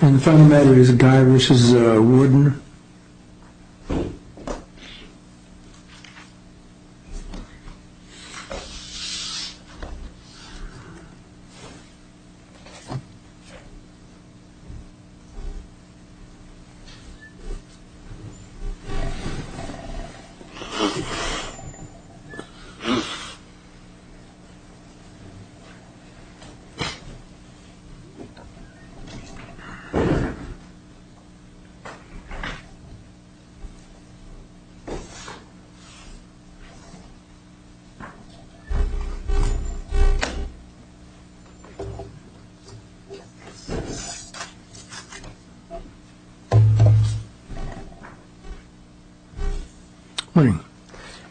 And the final matter is a guy which is a warden.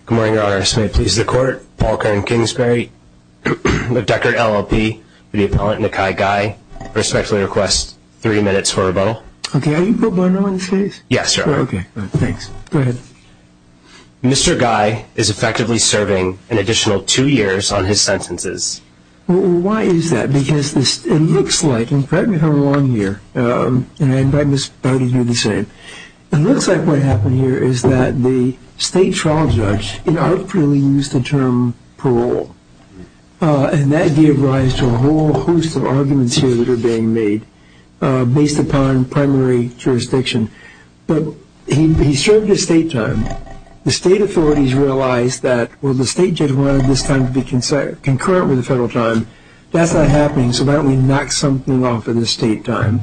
Good morning, Your Honors. May it please the court, Paul Kern Kingsbury, the Decker LLP, the appellant Nakai Gai, I respectfully request that the defendant's name be called. Mr. Gai is effectively serving an additional two years on his sentences. Well, why is that? Because it looks like, and correct me if I'm wrong here, and I invite Ms. Bowden here to say it, it looks like what happened here is that the state trial judge inarticulately used the term parole. And that gave rise to a whole host of arguments here that are being made based upon primary jurisdiction. But he served his state time. The state authorities realized that, well, the state judge wanted this time to be concurrent with the federal time. That's not happening, so why don't we knock something off of the state time.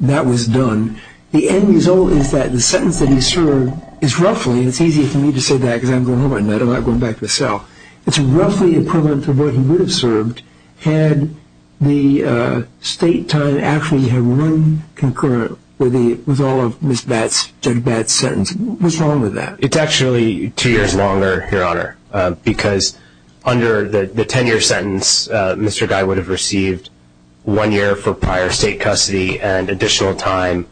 That was done. The end result is that the sentence that he served is roughly, and it's easier for me to say that because I'm going home at night, I'm not going back to the cell, it's roughly equivalent to what he would have served had the state time actually had run concurrent with all of Judge Batt's sentence. What's wrong with that? It's actually two years longer, Your Honor, because under the ten-year sentence, Mr. Gai would have received one year for prior state custody and additional time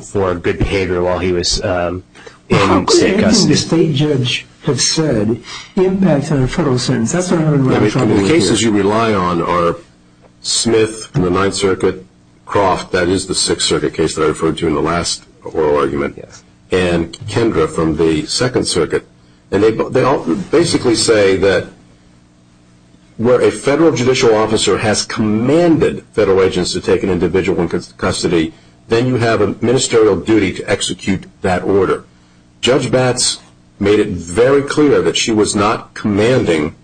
for good behavior while he was in state custody. Nothing the state judge has said impacts on a federal sentence. The cases you rely on are Smith in the Ninth Circuit, Croft, that is the Sixth Circuit case that I referred to in the last oral argument, and Kendra from the Second Circuit. And they basically say that where a federal judicial officer has commanded federal agents to take an individual into custody, then you have a ministerial duty to execute that order. Judge Batt's made it very clear that she was not commanding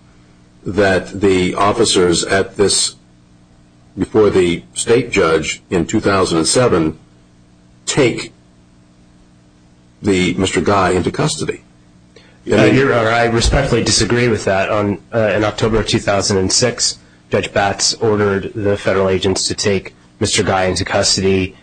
that the officers before the state judge in 2007 take Mr. Gai into custody. Your Honor, I respectfully disagree with that. In October of 2006, Judge Batt's ordered the federal agents to take Mr. Gai into custody.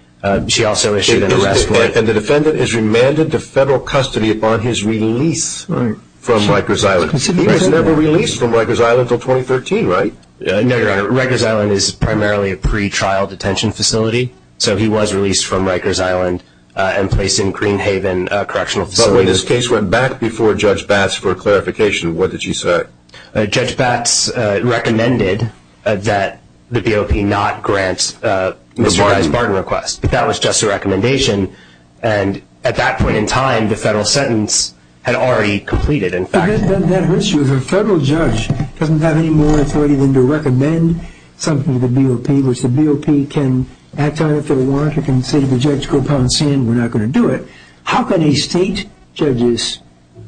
She also issued an arrest warrant. And the defendant is remanded to federal custody upon his release from Rikers Island. He was never released from Rikers Island until 2013, right? No, Your Honor. Rikers Island is primarily a pretrial detention facility, so he was released from Rikers Island and placed in Greenhaven Correctional Facility. But wait, this case went back before Judge Batt's for clarification. What did she say? Judge Batt's recommended that the BOP not grant Mr. Gai's pardon request, but that was just a recommendation. And at that point in time, the federal sentence had already completed, in fact. That hurts you. The federal judge doesn't have any more authority than to recommend something to the BOP, which the BOP can, at that time, if they want, can say to the judge, go pound sand, we're not going to do it. How can a state judge's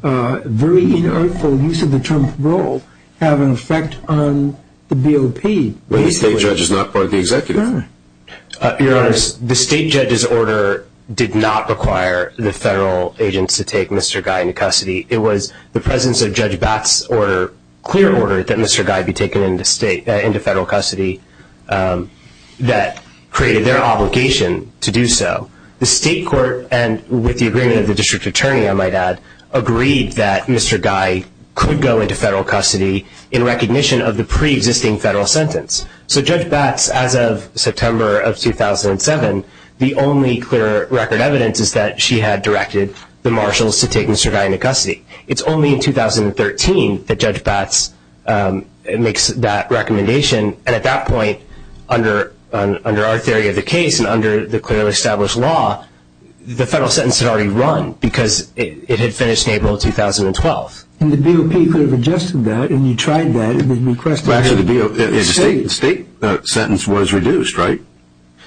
very unearthly use of the term parole have an effect on the BOP? When the state judge is not part of the executive. Your Honor, the state judge's order did not require the federal agents to take Mr. Gai into custody. It was the presence of Judge Batt's clear order that Mr. Gai be taken into federal custody that created their obligation to do so. The state court, and with the agreement of the district attorney, I might add, agreed that Mr. Gai could go into federal custody in recognition of the pre-existing federal sentence. So Judge Batt's, as of September of 2007, the only clear record evidence is that she had directed the marshals to take Mr. Gai into custody. It's only in 2013 that Judge Batt's makes that recommendation. At that point, under our theory of the case and under the clearly established law, the federal sentence had already run because it had finished in April of 2012. The BOP could have adjusted that, and you tried that. The state sentence was reduced, right?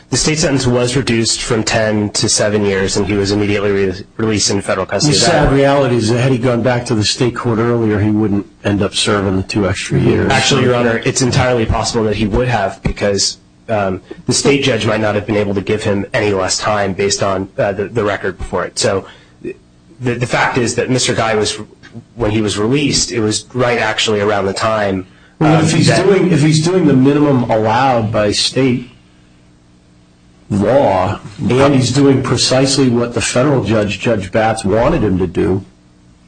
The state sentence was reduced from 10 to 7 years, and he was immediately released into federal custody. The sad reality is that had he gone back to the state court earlier, he wouldn't end up serving the two extra years. Actually, Your Honor, it's entirely possible that he would have, because the state judge might not have been able to give him any less time based on the record before it. So the fact is that Mr. Gai, when he was released, it was right actually around the time. If he's doing the minimum allowed by state law, and he's doing precisely what the federal judge, Judge Batt's, wanted him to do,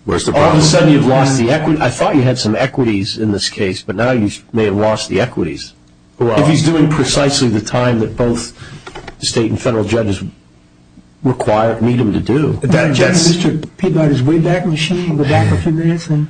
all of a sudden you've lost the equity. I thought you had some equities in this case, but now you may have lost the equities. If he's doing precisely the time that both the state and federal judges require, need him to do. But that judge, Mr. Peagod, is way back in the sheet, in the back of his medicine.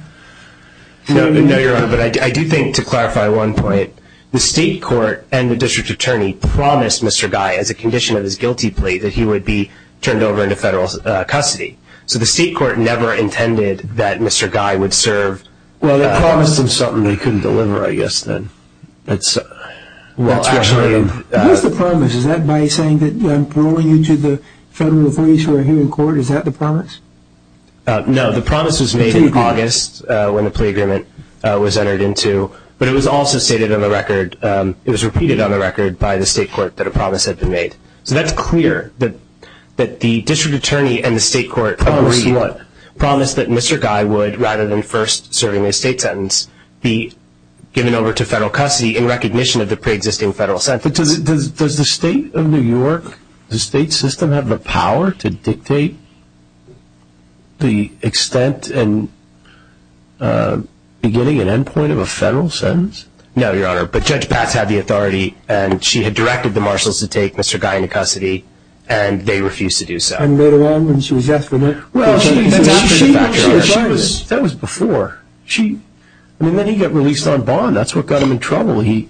No, Your Honor, but I do think, to clarify one point, the state court and the district attorney promised Mr. Gai, as a condition of his guilty plea, that he would be turned over into federal custody. So the state court never intended that Mr. Gai would serve. Well, they promised him something they couldn't deliver, I guess, then. What's the promise? Is that by saying that I'm paroling you to the federal authorities who are here in court? Is that the promise? No, the promise was made in August when the plea agreement was entered into, but it was also stated on the record, it was repeated on the record by the state court that a promise had been made. So that's clear that the district attorney and the state court promised that Mr. Gai would, rather than first serving a state sentence, be given over to federal custody in recognition of the preexisting federal sentence. But does the state of New York, the state system, have the power to dictate the extent and beginning and end point of a federal sentence? No, Your Honor, but Judge Patz had the authority, and she had directed the marshals to take Mr. Gai into custody, and they refused to do so. And later on, when she was asked to leave? Well, that was before. I mean, then he got released on bond. That's what got him in trouble. He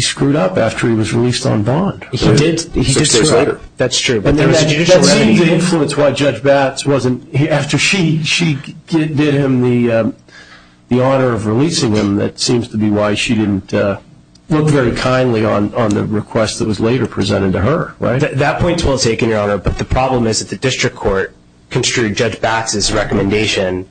screwed up after he was released on bond. He did. That's true. But that seemed to influence why Judge Patz wasn't, after she did him the honor of releasing him, that seems to be why she didn't look very kindly on the request that was later presented to her, right? That point is well taken, Your Honor, but the problem is that the district court construed Judge Patz's recommendation,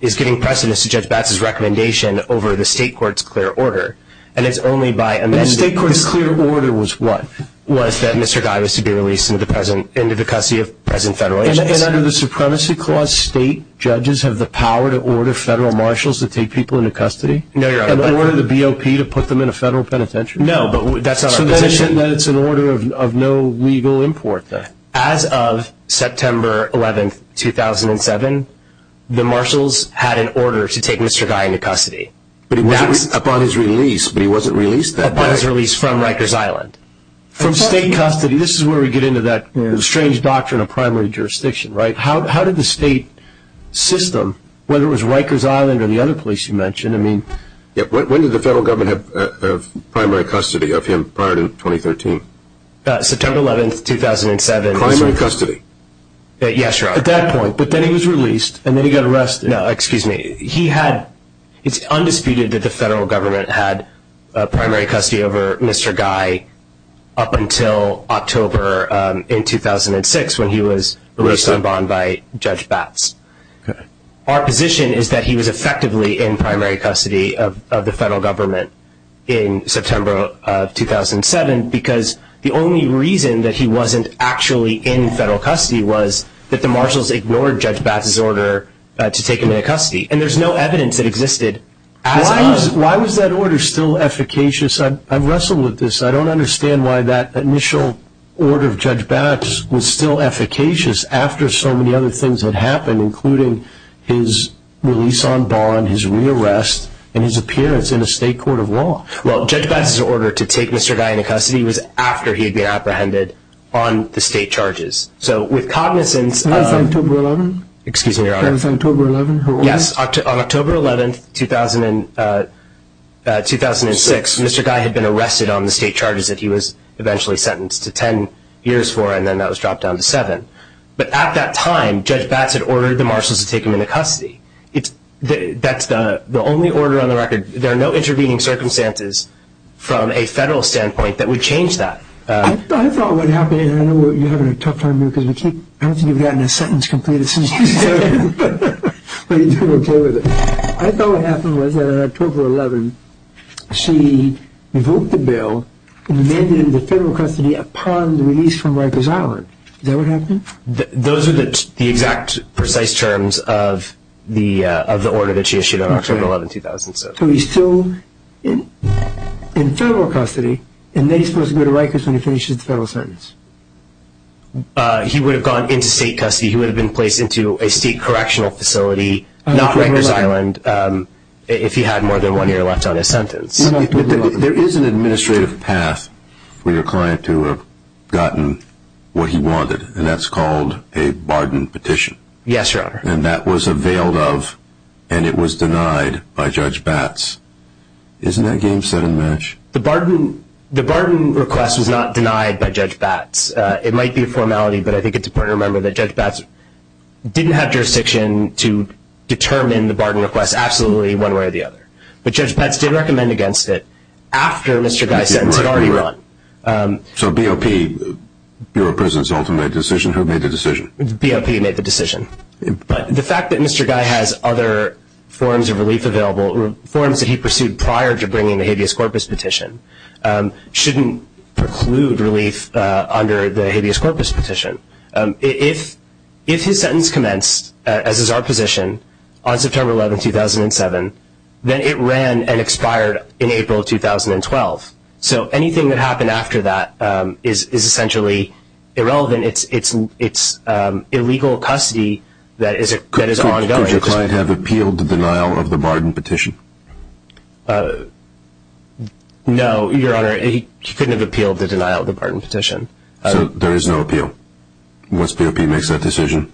is giving precedence to Judge Patz's recommendation over the state court's clear order, and it's only by amending the statute. The state court's clear order was what? Was that Mr. Gai was to be released into the custody of present federal agents. And under the Supremacy Clause, state judges have the power to order federal marshals to take people into custody? No, Your Honor. And order the BOP to put them in a federal penitentiary? No, but that's not our position. So then it's an order of no legal import, then? As of September 11, 2007, the marshals had an order to take Mr. Gai into custody. But he wasn't, upon his release, but he wasn't released that day. Upon his release from Rikers Island. From state custody. This is where we get into that strange doctrine of primary jurisdiction, right? How did the state system, whether it was Rikers Island or the other place you mentioned, I mean... When did the federal government have primary custody of him prior to 2013? September 11, 2007. Primary custody? Yes, Your Honor. At that point. But then he was released, and then he got arrested. No, excuse me. He had... It's undisputed that the federal government had primary custody over Mr. Gai up until October in 2006 when he was released on bond by Judge Batts. Our position is that he was effectively in primary custody of the federal government in September of 2007 because the only reason that he wasn't actually in federal custody was that the marshals ignored Judge Batts' order to take him into custody. And there's no evidence that existed as of... Why was that order still efficacious? I've wrestled with this. I don't understand why that initial order of Judge Batts was still efficacious after so many other things had happened, including his release on bond, his re-arrest, and his appearance in a state court of law. Well, Judge Batts' order to take Mr. Gai into custody was after he had been apprehended on the state charges. So with cognizance of... That was October 11? Excuse me, Your Honor. That was October 11, her order? Yes, on October 11, 2006, Mr. Gai had been arrested on the state charges that he was eventually sentenced to 10 years for, and then that was dropped down to seven. But at that time, Judge Batts had ordered the marshals to take him into custody. That's the only order on the record. There are no intervening circumstances from a federal standpoint that would change that. I thought what happened, and I know you're having a tough time here because we can't... I don't think you've gotten a sentence completed since you started, but you're doing okay with it. I thought what happened was that on October 11, she revoked the bill and remanded him to federal custody upon the release from Rikers Island. Is that what happened? Those are the exact precise terms of the order that she issued on October 11, 2007. So he's still in federal custody, and then he's supposed to go to Rikers when he finishes the federal sentence. He would have gone into state custody. He would have been placed into a state correctional facility, not Rikers Island, if he had more than one year left on his sentence. There is an administrative path for your client to have gotten what he wanted, and that's called a barden petition. Yes, Your Honor. And that was availed of, and it was denied by Judge Batts. Isn't that game set in match? The barden request was not denied by Judge Batts. It might be a formality, but I think it's important to remember that Judge Batts didn't have jurisdiction to determine the barden request absolutely one way or the other. But Judge Batts did recommend against it after Mr. Guy's sentence had already run. So BOP, Bureau of Prison's ultimate decision, who made the decision? BOP made the decision. But the fact that Mr. Guy has other forms of relief available, forms that he pursued prior to bringing the habeas corpus petition, shouldn't preclude relief under the habeas corpus petition. If his sentence commenced, as is our position, on September 11, 2007, then it ran and expired in April of 2012. So anything that happened after that is essentially irrelevant. It's illegal custody that is ongoing. Could your client have appealed the denial of the barden petition? No, Your Honor. He couldn't have appealed the denial of the barden petition. So there is no appeal once BOP makes that decision?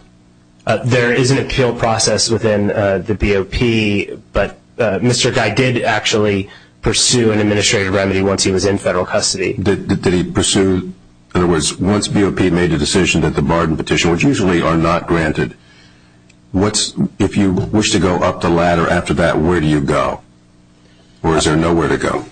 There is an appeal process within the BOP, but Mr. Guy did actually pursue an administrative remedy once he was in federal custody. Did he pursue? In other words, once BOP made a decision that the barden petition, which usually are not granted, if you wish to go up the ladder after that, where do you go? Or is there nowhere to go?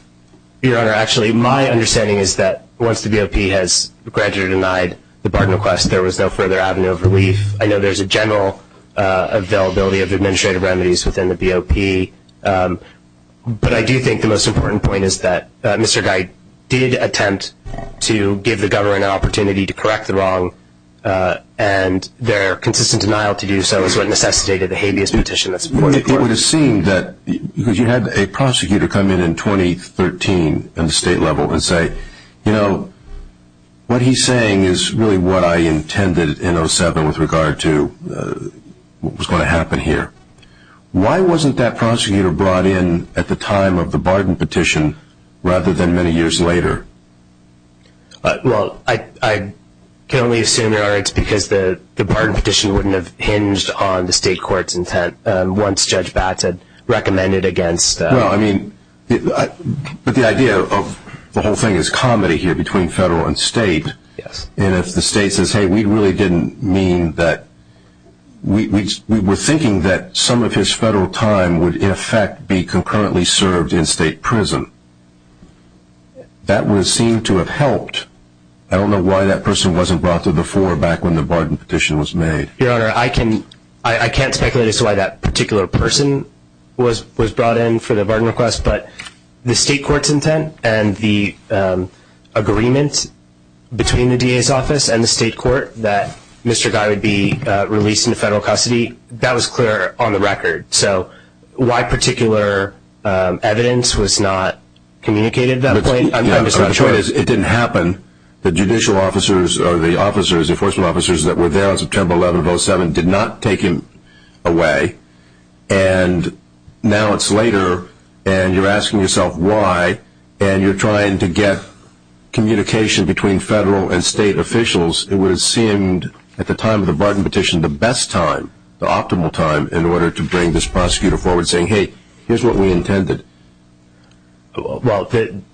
Your Honor, actually my understanding is that once the BOP has granted or denied the barden request, there was no further avenue of relief. I know there's a general availability of administrative remedies within the BOP. But I do think the most important point is that Mr. Guy did attempt to give the government an opportunity to correct the wrong, and their consistent denial to do so is what necessitated the habeas petition. It would have seemed that, because you had a prosecutor come in in 2013 at the state level and say, you know, what he's saying is really what I intended in 2007 with regard to what was going to happen here. Why wasn't that prosecutor brought in at the time of the barden petition rather than many years later? Well, I can only assume, Your Honor, it's because the barden petition wouldn't have hinged on the state court's intent once Judge Batts had recommended against. Well, I mean, but the idea of the whole thing is comedy here between federal and state. And if the state says, hey, we really didn't mean that, we were thinking that some of his federal time would, in effect, be concurrently served in state prison, that would seem to have helped. I don't know why that person wasn't brought to the fore back when the barden petition was made. Your Honor, I can't speculate as to why that particular person was brought in for the barden request, but the state court's intent and the agreement between the DA's office and the state court that Mr. Guy would be released into federal custody, that was clear on the record. So why particular evidence was not communicated at that point, I'm just not sure. It didn't happen. The judicial officers or the officers, the enforcement officers that were there on September 11, 2007, did not take him away, and now it's later, and you're asking yourself why, and you're trying to get communication between federal and state officials. It would have seemed, at the time of the barden petition, the best time, the optimal time, in order to bring this prosecutor forward saying, hey, here's what we intended. And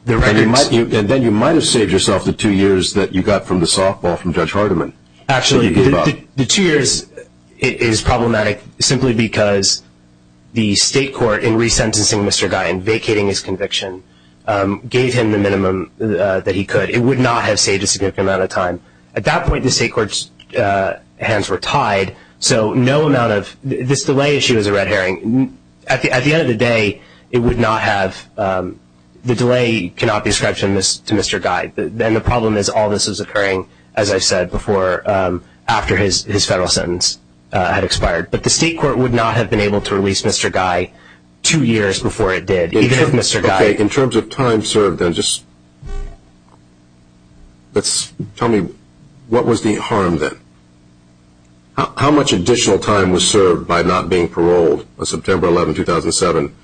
then you might have saved yourself the two years that you got from the softball from Judge Hardiman. Actually, the two years is problematic simply because the state court, in resentencing Mr. Guy and vacating his conviction, gave him the minimum that he could. It would not have saved a significant amount of time. At that point, the state court's hands were tied, so no amount of this delay issue is a red herring. At the end of the day, it would not have, the delay cannot be ascribed to Mr. Guy. Then the problem is all this is occurring, as I said, after his federal sentence had expired. But the state court would not have been able to release Mr. Guy two years before it did, even if Mr. Guy In terms of time served, then, just tell me what was the harm then? How much additional time was served by not being paroled on September 11, 2007?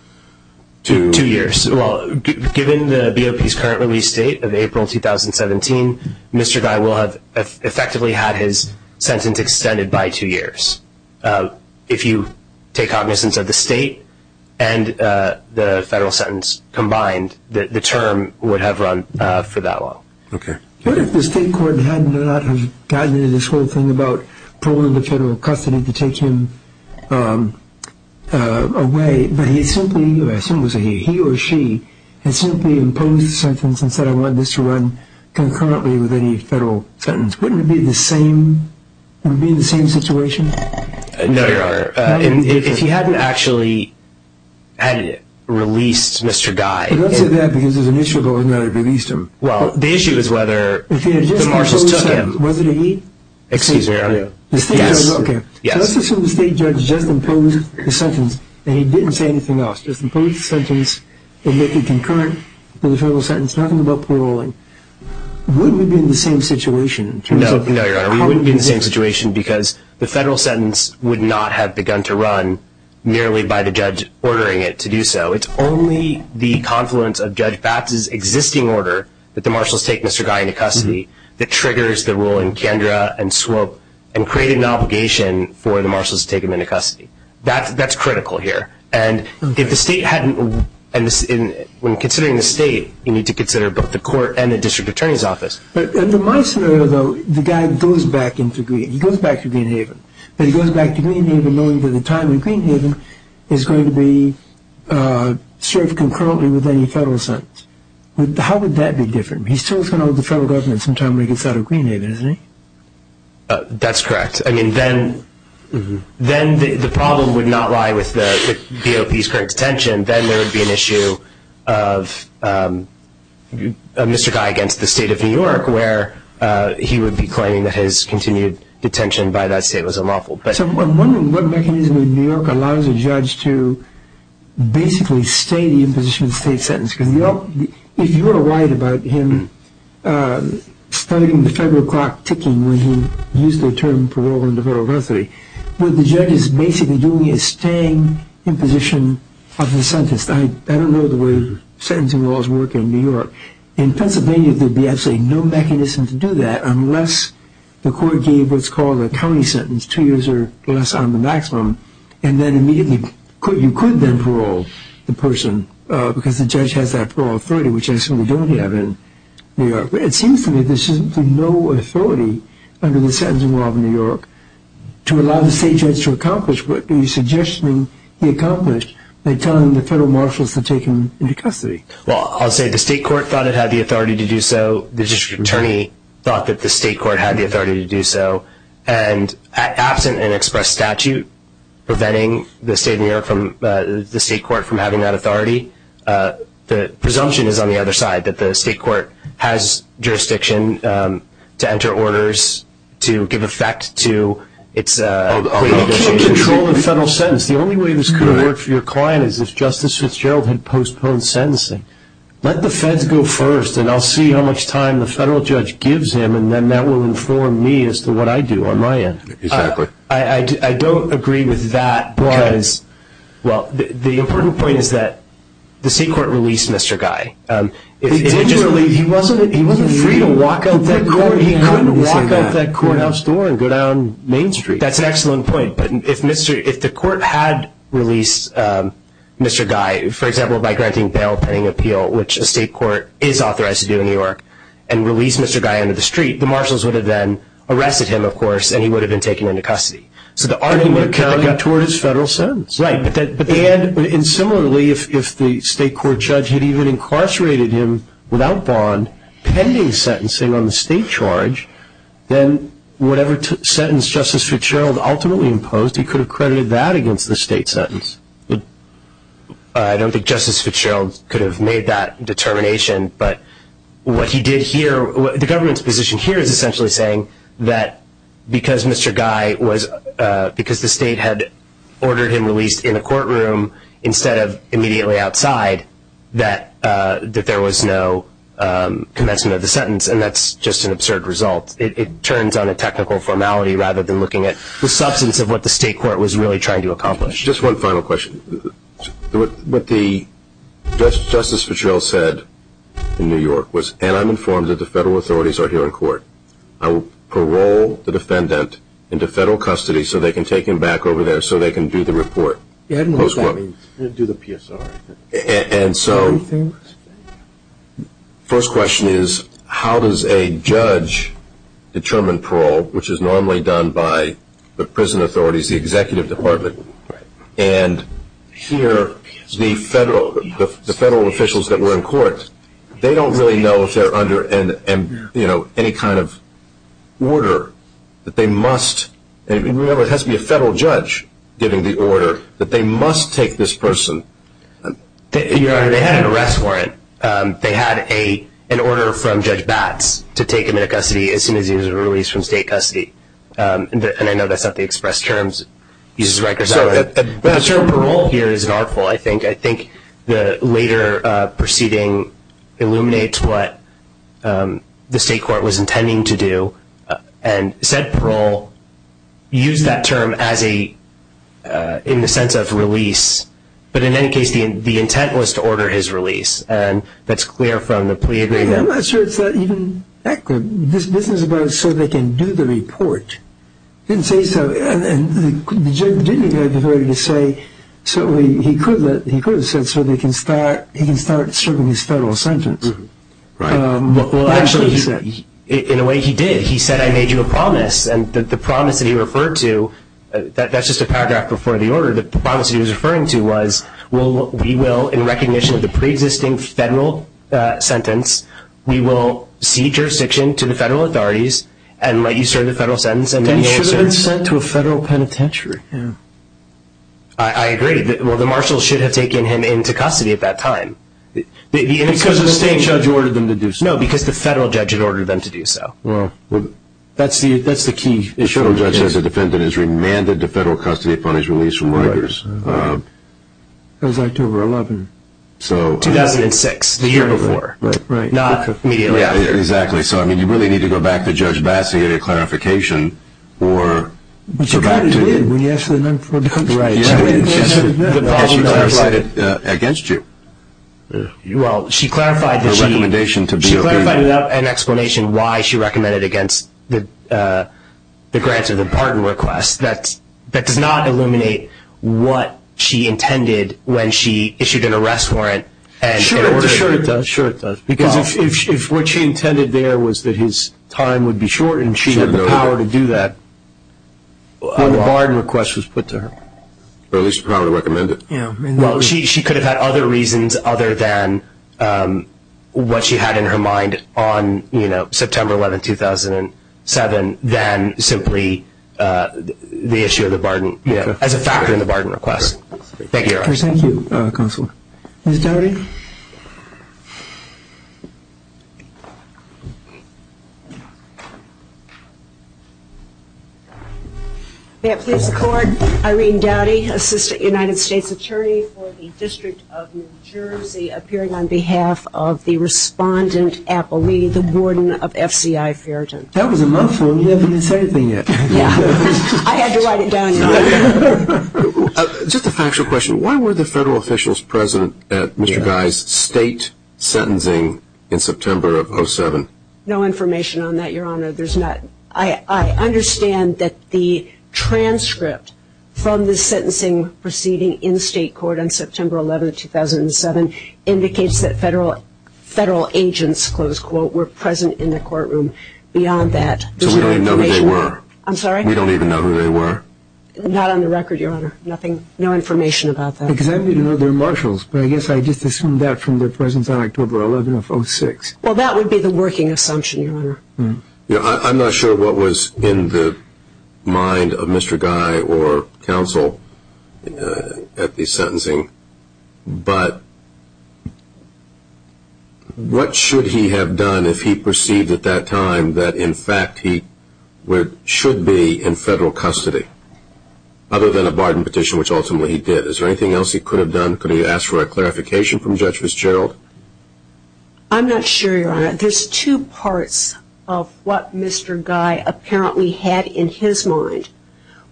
Two years. Well, given the BOP's current release date of April 2017, Mr. Guy will have effectively had his sentence extended by two years. If you take cognizance of the state and the federal sentence combined, the term would have run for that long. Okay. What if the state court had not gotten into this whole thing about pulling the federal custody to take him away, but he or she had simply imposed the sentence and said, I want this to run concurrently with any federal sentence. Wouldn't it be the same situation? No, if he hadn't actually had released Mr. Guy. Don't say that, because there's an issue about whether or not he released him. Well, the issue is whether the marshals took him. Was it a he? Excuse me, are you? Yes. Let's assume the state judge just imposed the sentence, and he didn't say anything else, just imposed the sentence and made it concurrent with the federal sentence, nothing about paroling. Wouldn't we be in the same situation? No, Your Honor, we wouldn't be in the same situation because the federal sentence would not have begun to run merely by the judge ordering it to do so. It's only the confluence of Judge Fatt's existing order that the marshals take Mr. Guy into custody that triggers the rule in Kendra and Swope and created an obligation for the marshals to take him into custody. That's critical here. And if the state hadn't – when considering the state, you need to consider both the court and the district attorney's office. Under my scenario, though, the guy goes back into Green – he goes back to Green Haven, but he goes back to Green Haven knowing that the time in Green Haven is going to be served concurrently with any federal sentence. How would that be different? He still is going to hold the federal government sometime when he gets out of Green Haven, isn't he? That's correct. I mean, then the problem would not lie with the DOP's current detention. Then there would be an issue of Mr. Guy against the state of New York where he would be claiming that his continued detention by that state was unlawful. So I'm wondering what mechanism in New York allows a judge to basically stay in the position of the state sentence? Because if you're right about him starting the federal clock ticking when he used the term parole under federal custody, what the judge is basically doing is staying in position of the sentence. I don't know the way sentencing laws work in New York. In Pennsylvania, there would be absolutely no mechanism to do that unless the court gave what's called a county sentence, two years or less on the maximum, and then immediately you could then parole the person because the judge has that parole authority, which I certainly don't have in New York. But it seems to me there's simply no authority under the sentencing law of New York to allow the state judge to accomplish what he's suggesting he accomplished by telling the federal marshals to take him into custody. Well, I'll say the state court thought it had the authority to do so. The district attorney thought that the state court had the authority to do so. And absent an express statute preventing the state of New York from the state court from having that authority, the presumption is on the other side that the state court has jurisdiction to enter orders to give effect to its plea negotiations. I can't control the federal sentence. The only way this could have worked for your client is if Justice Fitzgerald had postponed sentencing. Let the feds go first, and I'll see how much time the federal judge gives him, and then that will inform me as to what I do on my end. Exactly. I don't agree with that because, well, the important point is that the state court released Mr. Guy. He wasn't free to walk out that court. He couldn't walk out that courthouse door and go down Main Street. That's an excellent point. But if the court had released Mr. Guy, for example, by granting bail pending appeal, which a state court is authorized to do in New York, and released Mr. Guy into the street, the marshals would have then arrested him, of course, and he would have been taken into custody. So the argument would have carried out toward his federal sentence. Right. And similarly, if the state court judge had even incarcerated him without bond pending sentencing on the state charge, then whatever sentence Justice Fitzgerald ultimately imposed, he could have credited that against the state sentence. I don't think Justice Fitzgerald could have made that determination. But what he did here, the government's position here is essentially saying that because Mr. Guy was, because the state had ordered him released in a courtroom instead of immediately outside, that there was no commencement of the sentence, and that's just an absurd result. It turns on a technical formality rather than looking at the substance of what the state court was really trying to accomplish. Just one final question. What Justice Fitzgerald said in New York was, and I'm informed that the federal authorities are here in court, I will parole the defendant into federal custody so they can take him back over there so they can do the report. I don't know what that means. Do the PSR. And so first question is, how does a judge determine parole, which is normally done by the prison authorities, the executive department, and here the federal officials that were in court, they don't really know if they're under any kind of order that they must, and remember it has to be a federal judge giving the order, that they must take this person. Your Honor, they had an arrest warrant. They had an order from Judge Batts to take him into custody as soon as he was released from state custody, and I know that's not the express terms. The term parole here is an artful, I think. I think the later proceeding illuminates what the state court was intending to do, and said parole, used that term in the sense of release, but in any case the intent was to order his release, and that's clear from the plea agreement. I'm not sure it's that even accurate. This is about so they can do the report. He didn't say so, and the judge didn't even have the authority to say, so he could have said so he can start serving his federal sentence. Well, actually, in a way he did. He said, I made you a promise, and the promise that he referred to, that's just a paragraph before the order, the promise he was referring to was, we will, in recognition of the preexisting federal sentence, we will cede jurisdiction to the federal authorities and let you serve the federal sentence. Then he should have been sent to a federal penitentiary. I agree. Well, the marshal should have taken him into custody at that time. Because the state judge ordered them to do so. No, because the federal judge had ordered them to do so. Well, that's the key. The federal judge says the defendant is remanded to federal custody upon his release from workers. That was October 11th. 2006, the year before, not immediately after. Exactly. So, I mean, you really need to go back to Judge Bassett and get a clarification or go back to him. She clarified it against you. Well, she clarified it. Her recommendation to be obeyed. She clarified it without an explanation why she recommended it against the grant or the pardon request. That does not illuminate what she intended when she issued an arrest warrant. Sure, it does. Because if what she intended there was that his time would be shortened, and she had the power to do that when the pardon request was put to her. Or at least the power to recommend it. Well, she could have had other reasons other than what she had in her mind on, you know, September 11th, 2007, than simply the issue of the pardon as a factor in the pardon request. Thank you, Your Honor. Thank you, Counselor. Ms. Doughty. May it please the Court, Irene Doughty, Assistant United States Attorney for the District of New Jersey, appearing on behalf of the respondent, Apple Lee, the warden of FCI Farrington. That was a month ago. You haven't even said anything yet. I had to write it down, Your Honor. Just a factual question. Why were the federal officials present at Mr. Guy's state sentencing in September of 2007? No information on that, Your Honor. I understand that the transcript from the sentencing proceeding in state court on September 11th, 2007, indicates that federal agents, close quote, were present in the courtroom. Beyond that, there's no information. So we don't even know who they were? I'm sorry? We don't even know who they were? Not on the record, Your Honor. No information about that. Because I need to know their marshals, but I guess I just assumed that from their presence on October 11th of 2006. Well, that would be the working assumption, Your Honor. I'm not sure what was in the mind of Mr. Guy or counsel at the sentencing, but what should he have done if he perceived at that time that, in fact, he should be in federal custody? Other than a barden petition, which ultimately he did. Is there anything else he could have done? Could he have asked for a clarification from Judge Fitzgerald? I'm not sure, Your Honor. There's two parts of what Mr. Guy apparently had in his mind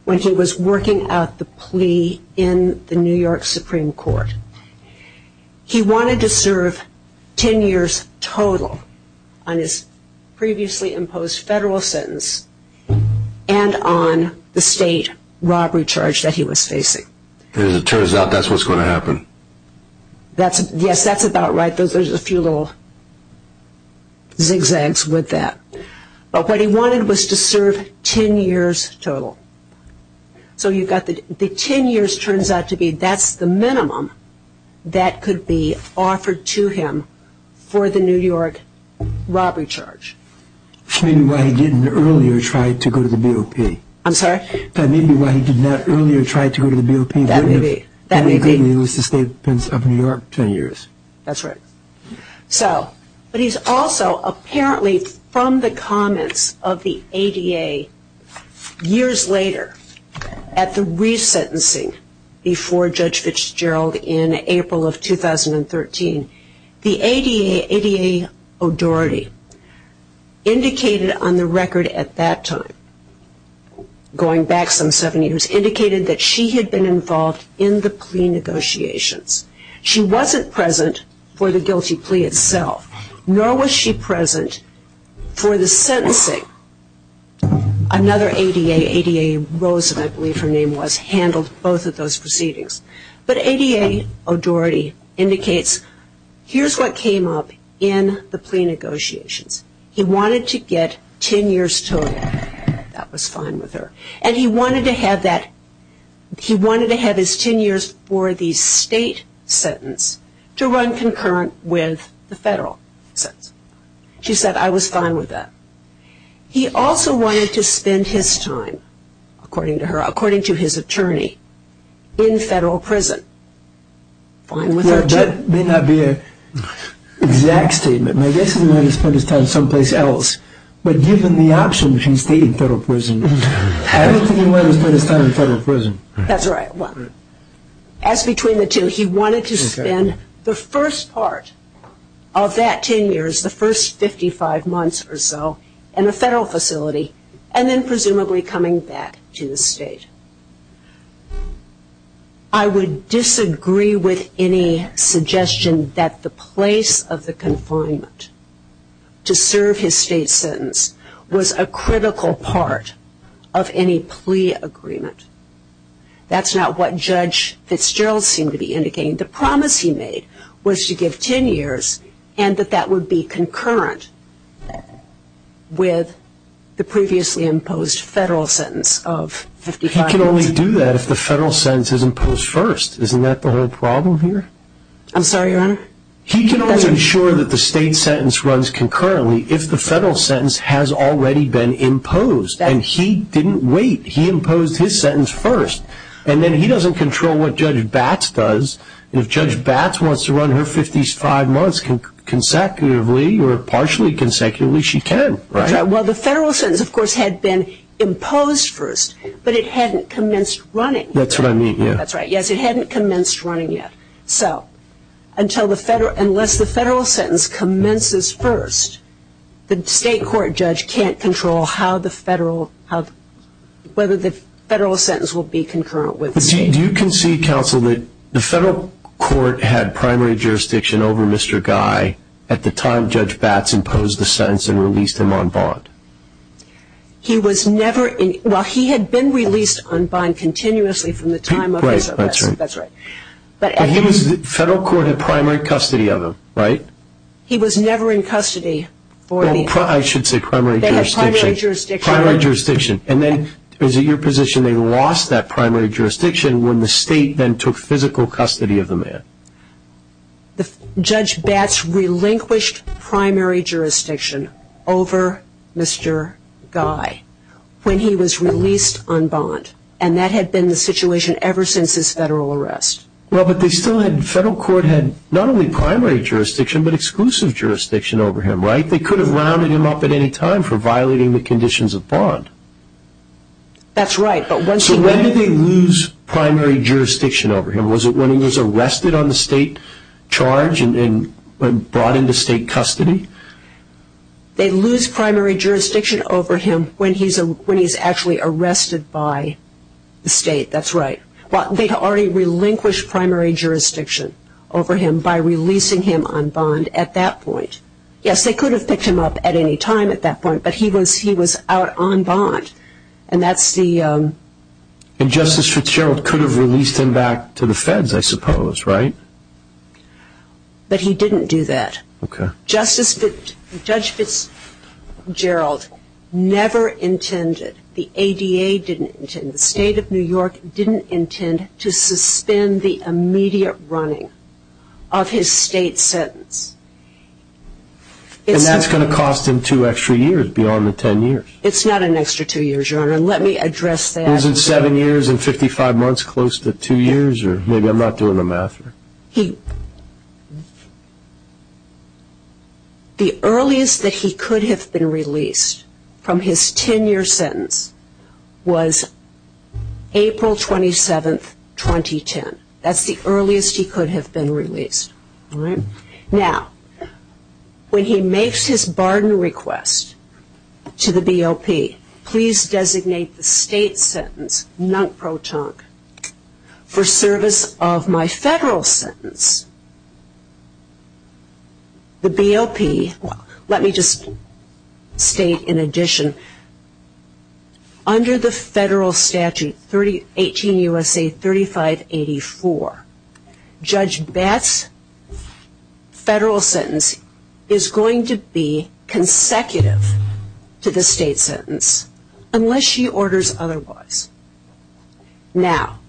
when he was working out the plea in the New York Supreme Court. He wanted to serve ten years total on his previously imposed federal sentence and on the state robbery charge that he was facing. As it turns out, that's what's going to happen. Yes, that's about right. There's a few little zigzags with that. But what he wanted was to serve ten years total. So you've got the ten years turns out to be that's the minimum that could be offered to him for the New York robbery charge. Maybe why he didn't earlier try to go to the BOP. I'm sorry? Maybe why he did not earlier try to go to the BOP. That may be. Did he lose the state of New York ten years? That's right. But he's also apparently from the comments of the ADA years later at the resentencing before Judge Fitzgerald in April of 2013, the ADA, O'Doherty, indicated on the record at that time, going back some seven years, indicated that she had been involved in the plea negotiations. She wasn't present for the guilty plea itself, nor was she present for the sentencing. Another ADA, ADA Rosen, I believe her name was, handled both of those proceedings. But ADA O'Doherty indicates here's what came up in the plea negotiations. He wanted to get ten years total. That was fine with her. And he wanted to have his ten years for the state sentence to run concurrent with the federal sentence. She said, I was fine with that. He also wanted to spend his time, according to her, according to his attorney, in federal prison. Fine with her, too. That may not be an exact statement. I guess he wanted to spend his time someplace else. But given the option between state and federal prison, I don't think he wanted to spend his time in federal prison. That's right. As between the two, he wanted to spend the first part of that ten years, the first 55 months or so, in a federal facility, and then presumably coming back to the state. I would disagree with any suggestion that the place of the confinement to serve his state sentence was a critical part of any plea agreement. That's not what Judge Fitzgerald seemed to be indicating. The promise he made was to give ten years and that that would be concurrent with the previously imposed federal sentence of 55 months. He can only do that if the federal sentence is imposed first. Isn't that the whole problem here? I'm sorry, Your Honor? He can only ensure that the state sentence runs concurrently if the federal sentence has already been imposed. And he didn't wait. He imposed his sentence first. And then he doesn't control what Judge Batts does. If Judge Batts wants to run her 55 months consecutively or partially consecutively, she can. Well, the federal sentence, of course, had been imposed first, but it hadn't commenced running. That's what I mean, yeah. That's right. Yes, it hadn't commenced running yet. So unless the federal sentence commences first, the state court judge can't control whether the federal sentence will be concurrent with the state. Do you concede, counsel, that the federal court had primary jurisdiction over Mr. Guy at the time Judge Batts imposed the sentence and released him on bond? He was never in – well, he had been released on bond continuously from the time of his arrest. That's right. But he was – the federal court had primary custody of him, right? He was never in custody for the – I should say primary jurisdiction. They had primary jurisdiction. Primary jurisdiction. And then is it your position they lost that primary jurisdiction when the state then took physical custody of the man? Judge Batts relinquished primary jurisdiction over Mr. Guy when he was released on bond. And that had been the situation ever since his federal arrest. Well, but they still had – the federal court had not only primary jurisdiction but exclusive jurisdiction over him, right? They could have rounded him up at any time for violating the conditions of bond. That's right, but once he – So when did they lose primary jurisdiction over him? Was it when he was arrested on the state charge and brought into state custody? They lose primary jurisdiction over him when he's actually arrested by the state. That's right. They had already relinquished primary jurisdiction over him by releasing him on bond at that point. Yes, they could have picked him up at any time at that point, but he was out on bond. And that's the – And Justice Fitzgerald could have released him back to the feds, I suppose, right? But he didn't do that. Okay. Justice – Judge Fitzgerald never intended – the ADA didn't intend – the state of New York didn't intend to suspend the immediate running of his state sentence. And that's going to cost him two extra years beyond the ten years. It's not an extra two years, Your Honor, and let me address that. Isn't seven years and 55 months close to two years? Or maybe I'm not doing the math. The earliest that he could have been released from his ten-year sentence was April 27, 2010. That's the earliest he could have been released. Now, when he makes his barter request to the BOP, please designate the state sentence, non-protonc, for service of my federal sentence. The BOP – well, let me just state in addition. Under the federal statute, 18 U.S.A. 3584, Judge Batt's federal sentence is going to be consecutive to the state sentence, unless she orders otherwise. Now,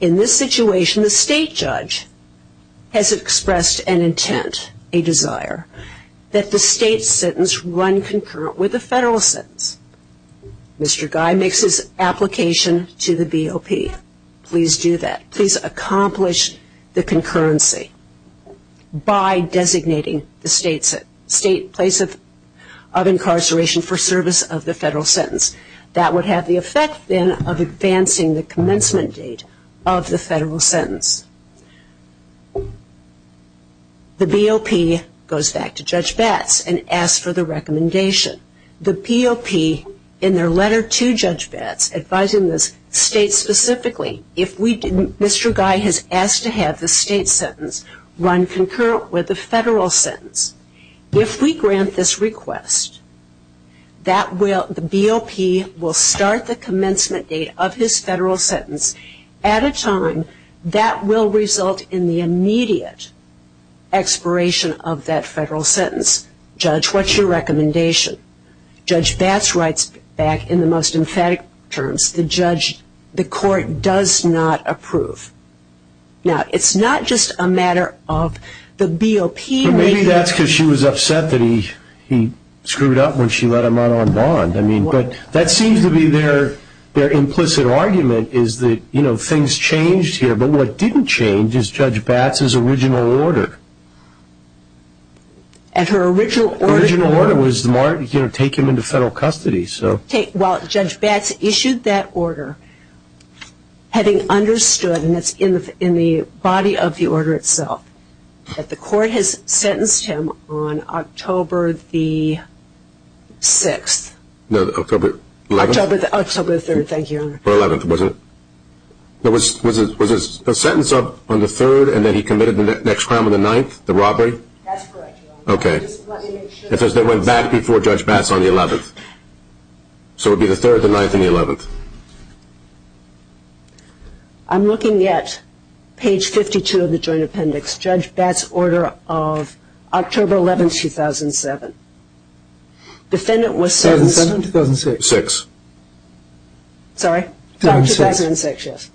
in this situation, the state judge has expressed an intent, a desire, that the state sentence run concurrent with the federal sentence. Mr. Guy makes his application to the BOP. Please do that. Please accomplish the concurrency by designating the state place of incarceration for service of the federal sentence. That would have the effect, then, of advancing the commencement date of the federal sentence. The BOP goes back to Judge Batt's and asks for the recommendation. The BOP, in their letter to Judge Batt's, advising the state specifically, if Mr. Guy has asked to have the state sentence run concurrent with the federal sentence, if we grant this request, the BOP will start the commencement date of his federal sentence at a time that will result in the immediate expiration of that federal sentence. Judge, what's your recommendation? Judge Batt's writes back in the most emphatic terms, the court does not approve. Now, it's not just a matter of the BOP. Maybe that's because she was upset that he screwed up when she let him out on bond. That seems to be their implicit argument is that things changed here, but what didn't change is Judge Batt's original order. Her original order was to take him into federal custody. Judge Batt's issued that order having understood, and it's in the body of the order itself, that the court has sentenced him on October the 6th. No, October 11th. October the 3rd, thank you, Your Honor. Or 11th, wasn't it? Was the sentence up on the 3rd, and then he committed the next crime on the 9th, the robbery? That's correct, Your Honor. Okay. It says they went back before Judge Batt's on the 11th. So it would be the 3rd, the 9th, and the 11th. I'm looking at page 52 of the joint appendix, Judge Batt's order of October 11th, 2007. Defendant was sentenced on 2006. 2006. Sorry? 2006. 2006, yes.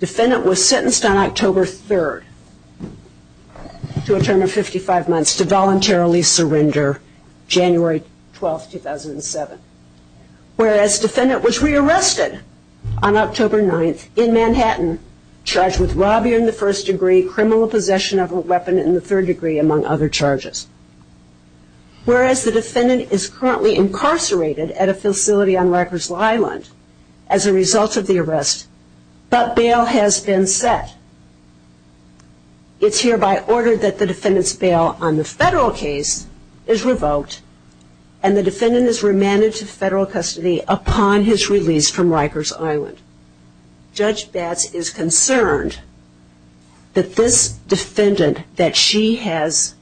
Defendant was sentenced on October 3rd to a term of 55 months to voluntarily surrender January 12th, 2007. Whereas defendant was rearrested on October 9th in Manhattan, charged with robbery in the first degree, criminal possession of a weapon in the third degree, among other charges. Whereas the defendant is currently incarcerated at a facility on Rikers Island as a result of the arrest, but bail has been set. It's hereby ordered that the defendant's bail on the federal case is revoked, and the defendant is remanded to federal custody upon his release from Rikers Island. Judge Batt's is concerned that this defendant that she has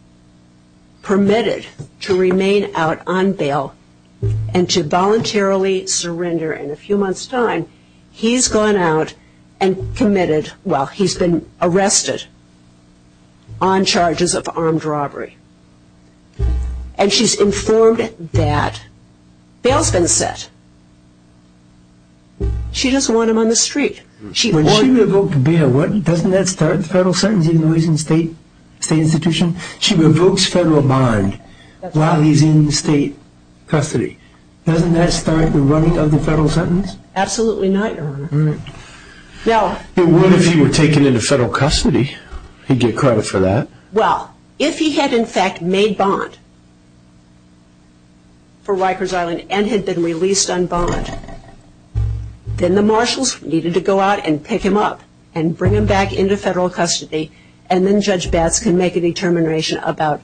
permitted to remain out on bail and to voluntarily surrender in a few months' time, he's gone out and committed, well, he's been arrested on charges of armed robbery. And she's informed that bail's been set. She doesn't want him on the street. When she revoked bail, doesn't that start the federal sentence even though he's in state institution? She revokes federal bond while he's in state custody. Doesn't that start the running of the federal sentence? Absolutely not, Your Honor. All right. It would if he were taken into federal custody. He'd get credit for that. Well, if he had, in fact, made bond for Rikers Island and had been released on bond, then the marshals needed to go out and pick him up and bring him back into federal custody, and then Judge Batt's can make a determination about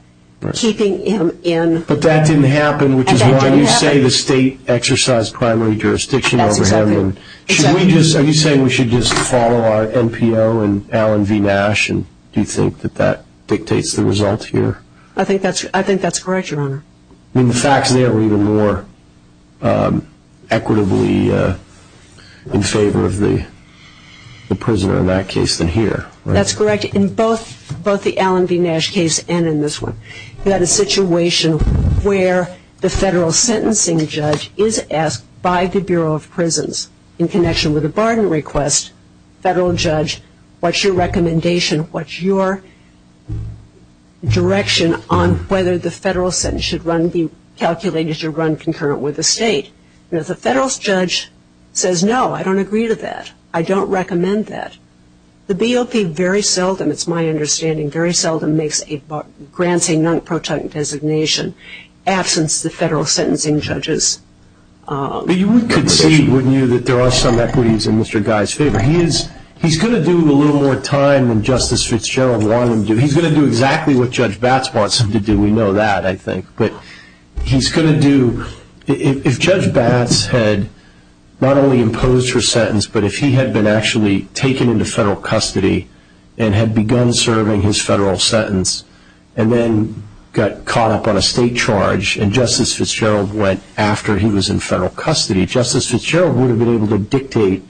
keeping him in. But that didn't happen, which is why you say the state exercised primary jurisdiction over him. That's exactly right. Are you saying we should just follow our NPO and Alan V. Nash, and do you think that that dictates the result here? I think that's correct, Your Honor. I mean, the facts there were even more equitably in favor of the prisoner in that case than here. That's correct. In both the Alan V. Nash case and in this one, you had a situation where the federal sentencing judge is asked by the Bureau of Prisons, in connection with a barter request, federal judge, what's your recommendation, what's your direction on whether the federal sentence should run, be calculated to run concurrent with the state? The federal judge says, no, I don't agree with that. I don't recommend that. The BOP very seldom, it's my understanding, very seldom makes a granting non-protectant designation, in absence of the federal sentencing judge's recommendation. But you would concede, wouldn't you, that there are some equities in Mr. Guy's favor. He's going to do a little more time than Justice Fitzgerald wanted him to do. He's going to do exactly what Judge Batts wants him to do. We know that, I think. But he's going to do, if Judge Batts had not only imposed her sentence, but if he had been actually taken into federal custody and had begun serving his federal sentence and then got caught up on a state charge and Justice Fitzgerald went after he was in federal custody, Justice Fitzgerald would have been able to dictate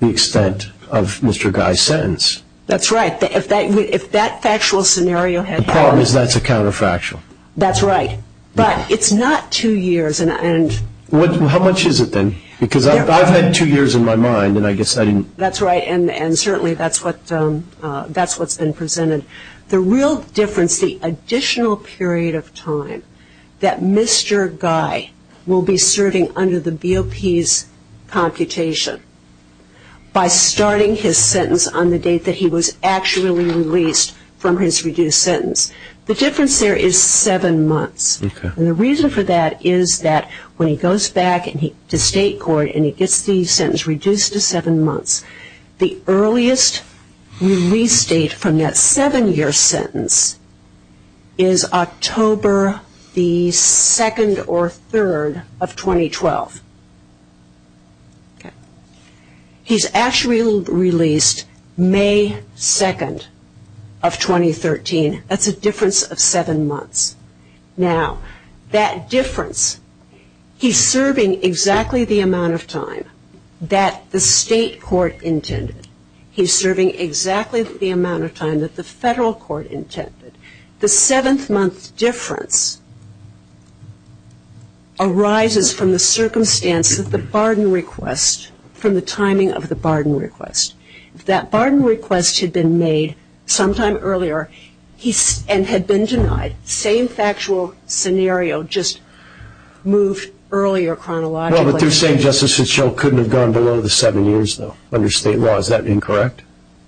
the extent of Mr. Guy's sentence. That's right. If that factual scenario had happened. The problem is that's a counterfactual. That's right. But it's not two years. How much is it then? Because I've had two years in my mind and I guess I didn't. That's right, and certainly that's what's been presented. The real difference, the additional period of time that Mr. Guy will be serving under the BOP's computation by starting his sentence on the date that he was actually released from his reduced sentence, the difference there is seven months. And the reason for that is that when he goes back to state court and he gets the sentence reduced to seven months, the earliest release date from that seven-year sentence is October 2nd or 3rd of 2012. He's actually released May 2nd of 2013. That's a difference of seven months. Now, that difference, he's serving exactly the amount of time that the state court intended. He's serving exactly the amount of time that the federal court intended. The seventh-month difference arises from the circumstance of the barden request, from the timing of the barden request. If that barden request had been made sometime earlier and had been denied, the same factual scenario just moved earlier chronologically. Well, but they're saying Justice Fitzgerald couldn't have gone below the seven years, though, under state law. Is that incorrect?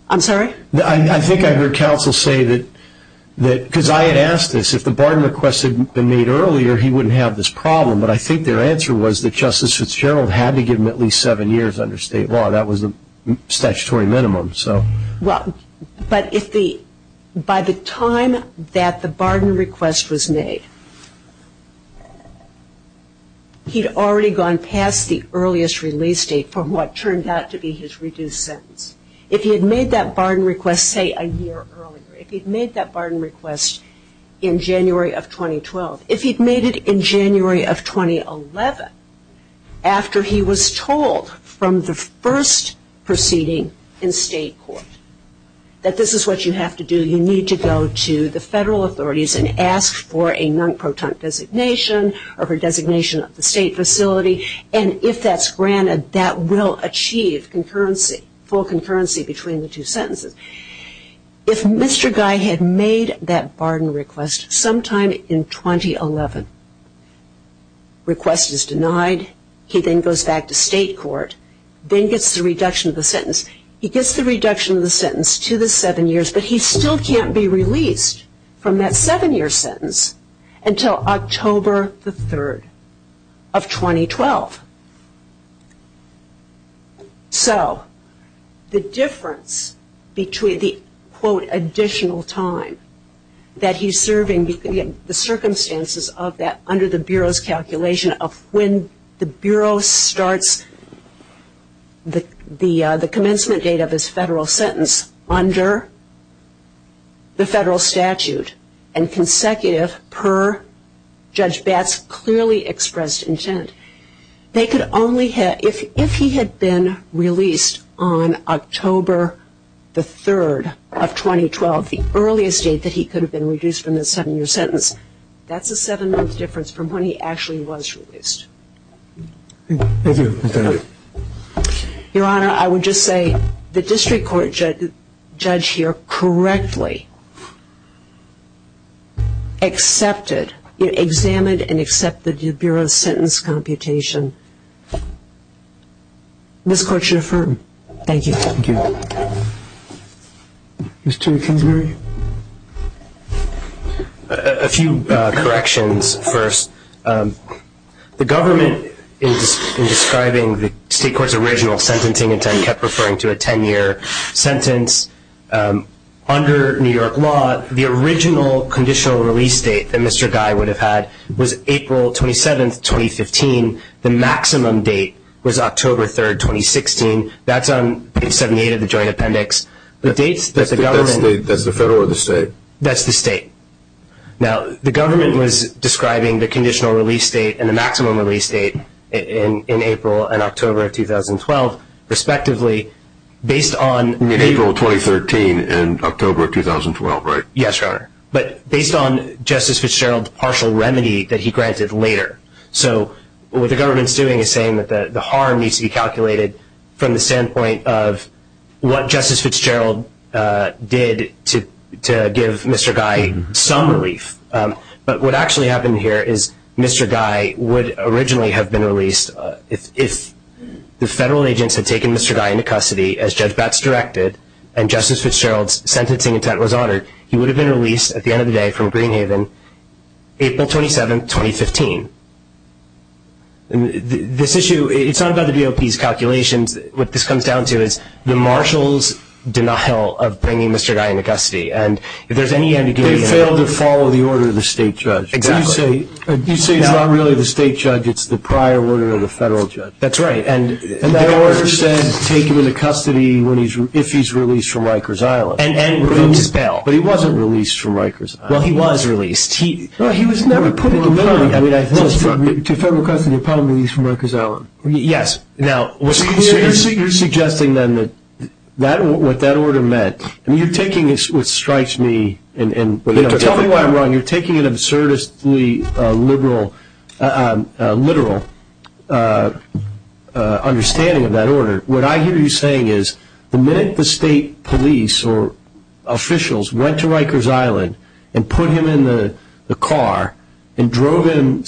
I'm sorry? I think I heard counsel say that because I had asked this, if the barden request had been made earlier, he wouldn't have this problem. But I think their answer was that Justice Fitzgerald had to give him at least seven years under state law. That was the statutory minimum, so. Well, but by the time that the barden request was made, he'd already gone past the earliest release date from what turned out to be his reduced sentence. If he had made that barden request, say, a year earlier, if he'd made that barden request in January of 2012, if he'd made it in January of 2011 after he was told from the first proceeding in state court that this is what you have to do, you need to go to the federal authorities and ask for a non-proton designation or for designation of the state facility, and if that's granted, that will achieve concurrency, full concurrency between the two sentences. If Mr. Guy had made that barden request sometime in 2011, request is denied, he then goes back to state court, then gets the reduction of the sentence. He gets the reduction of the sentence to the seven years, but he still can't be released from that seven-year sentence until October the 3rd of 2012. So the difference between the, quote, additional time that he's serving, the circumstances of that under the Bureau's calculation of when the Bureau starts the commencement date of his federal sentence under the federal statute and consecutive per Judge Batt's clearly expressed intent, they could only have, if he had been released on October the 3rd of 2012, the earliest date that he could have been reduced from the seven-year sentence, that's a seven-month difference from when he actually was released. Thank you. Your Honor, I would just say the district court judge here correctly accepted, examined and accepted the Bureau's sentence computation. This Court should affirm. Thank you. Thank you. Mr. Kingsbury. A few corrections first. The government, in describing the state court's original sentencing intent, kept referring to a ten-year sentence. Under New York law, the original conditional release date that Mr. Guy would have had was April 27th, 2015. The maximum date was October 3rd, 2016. That's on page 78 of the Joint Appendix. That's the federal or the state? That's the state. Now, the government was describing the conditional release date and the maximum release date in April and October of 2012, respectively, based on April 2013 and October 2012, right? Yes, Your Honor. But based on Justice Fitzgerald's partial remedy that he granted later. So what the government's doing is saying that the harm needs to be calculated from the standpoint of what Justice Fitzgerald did to give Mr. Guy some relief. But what actually happened here is Mr. Guy would originally have been released if the federal agents had taken Mr. Guy into custody, as Judge Betz directed, and Justice Fitzgerald's sentencing intent was honored, he would have been released at the end of the day from Greenhaven April 27th, 2015. This issue, it's not about the DOP's calculations. What this comes down to is the marshal's denial of bringing Mr. Guy into custody. They failed to follow the order of the state judge. Exactly. You say it's not really the state judge. It's the prior order of the federal judge. That's right. And that order says take him into custody if he's released from Rikers Island. But he wasn't released from Rikers Island. Well, he was released. Well, he was never put into custody. To federal custody upon release from Rikers Island. Yes. So you're suggesting then what that order meant. I mean, you're taking what strikes me. Tell me why I'm wrong. You're taking an absurdly literal understanding of that order. What I hear you saying is the minute the state police or officials went to Rikers Island and put him in the car and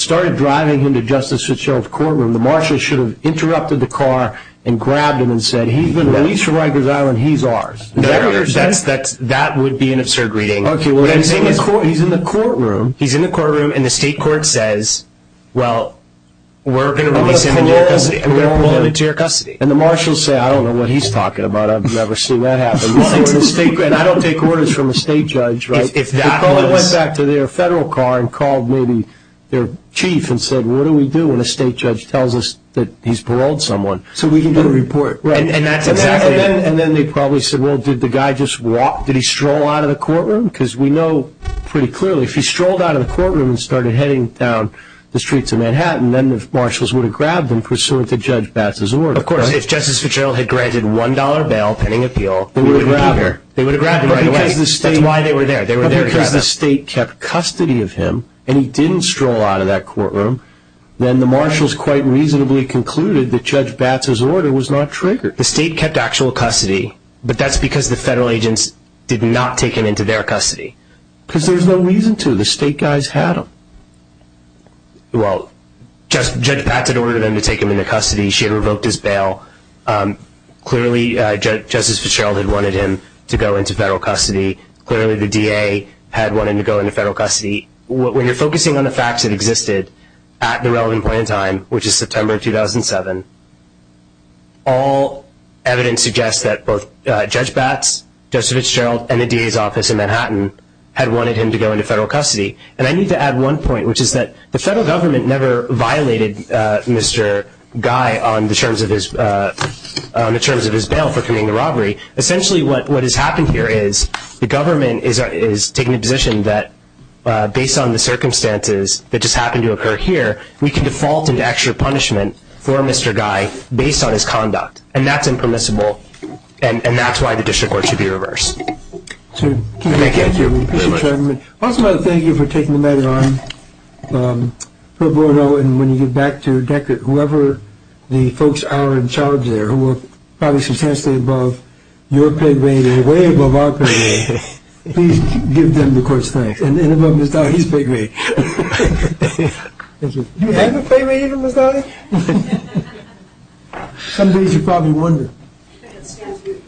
started driving him to Justice Fitzgerald's courtroom, the marshal should have interrupted the car and grabbed him and said, He's been released from Rikers Island. He's ours. That would be an absurd reading. Okay. He's in the courtroom. He's in the courtroom and the state court says, Well, we're going to release him into your custody. We're going to put him into your custody. And the marshal will say, I don't know what he's talking about. I've never seen that happen. I don't take orders from a state judge. If the caller went back to their federal car and called maybe their chief and said, What do we do when a state judge tells us that he's paroled someone? So we can get a report. And that's exactly it. And then they probably said, Well, did the guy just walk? Did he stroll out of the courtroom? Because we know pretty clearly if he strolled out of the courtroom and started heading down the streets of Manhattan, then the marshals would have grabbed him pursuant to Judge Bass's order. Of course. If Justice Fitzgerald had granted $1 bail pending appeal, That's why they were there. They were there to grab him. If the state kept custody of him and he didn't stroll out of that courtroom, then the marshals quite reasonably concluded that Judge Bass's order was not triggered. The state kept actual custody, but that's because the federal agents did not take him into their custody. Because there's no reason to. The state guys had him. Well, Judge Bass had ordered them to take him into custody. She had revoked his bail. Clearly, Justice Fitzgerald had wanted him to go into federal custody. Clearly, the DA had wanted him to go into federal custody. When you're focusing on the facts that existed at the relevant point in time, which is September 2007, all evidence suggests that both Judge Bass, Justice Fitzgerald, and the DA's office in Manhattan had wanted him to go into federal custody. And I need to add one point, which is that the federal government never violated Mr. Guy on the terms of his bail for committing the robbery. Essentially, what has happened here is the government is taking a position that, based on the circumstances that just happened to occur here, we can default into extra punishment for Mr. Guy based on his conduct. And that's impermissible, and that's why the district court should be reversed. Thank you. Thank you. Thank you, Chairman. I also want to thank you for taking the matter on pro bono. And when you get back to whoever the folks are in charge there, who are probably substantially above your pay grade and way above our pay grade, please give them the court's thanks. And above Ms. Dowdy's pay grade. Thank you. Do you have a pay grade even, Ms. Dowdy? Some days you probably wonder.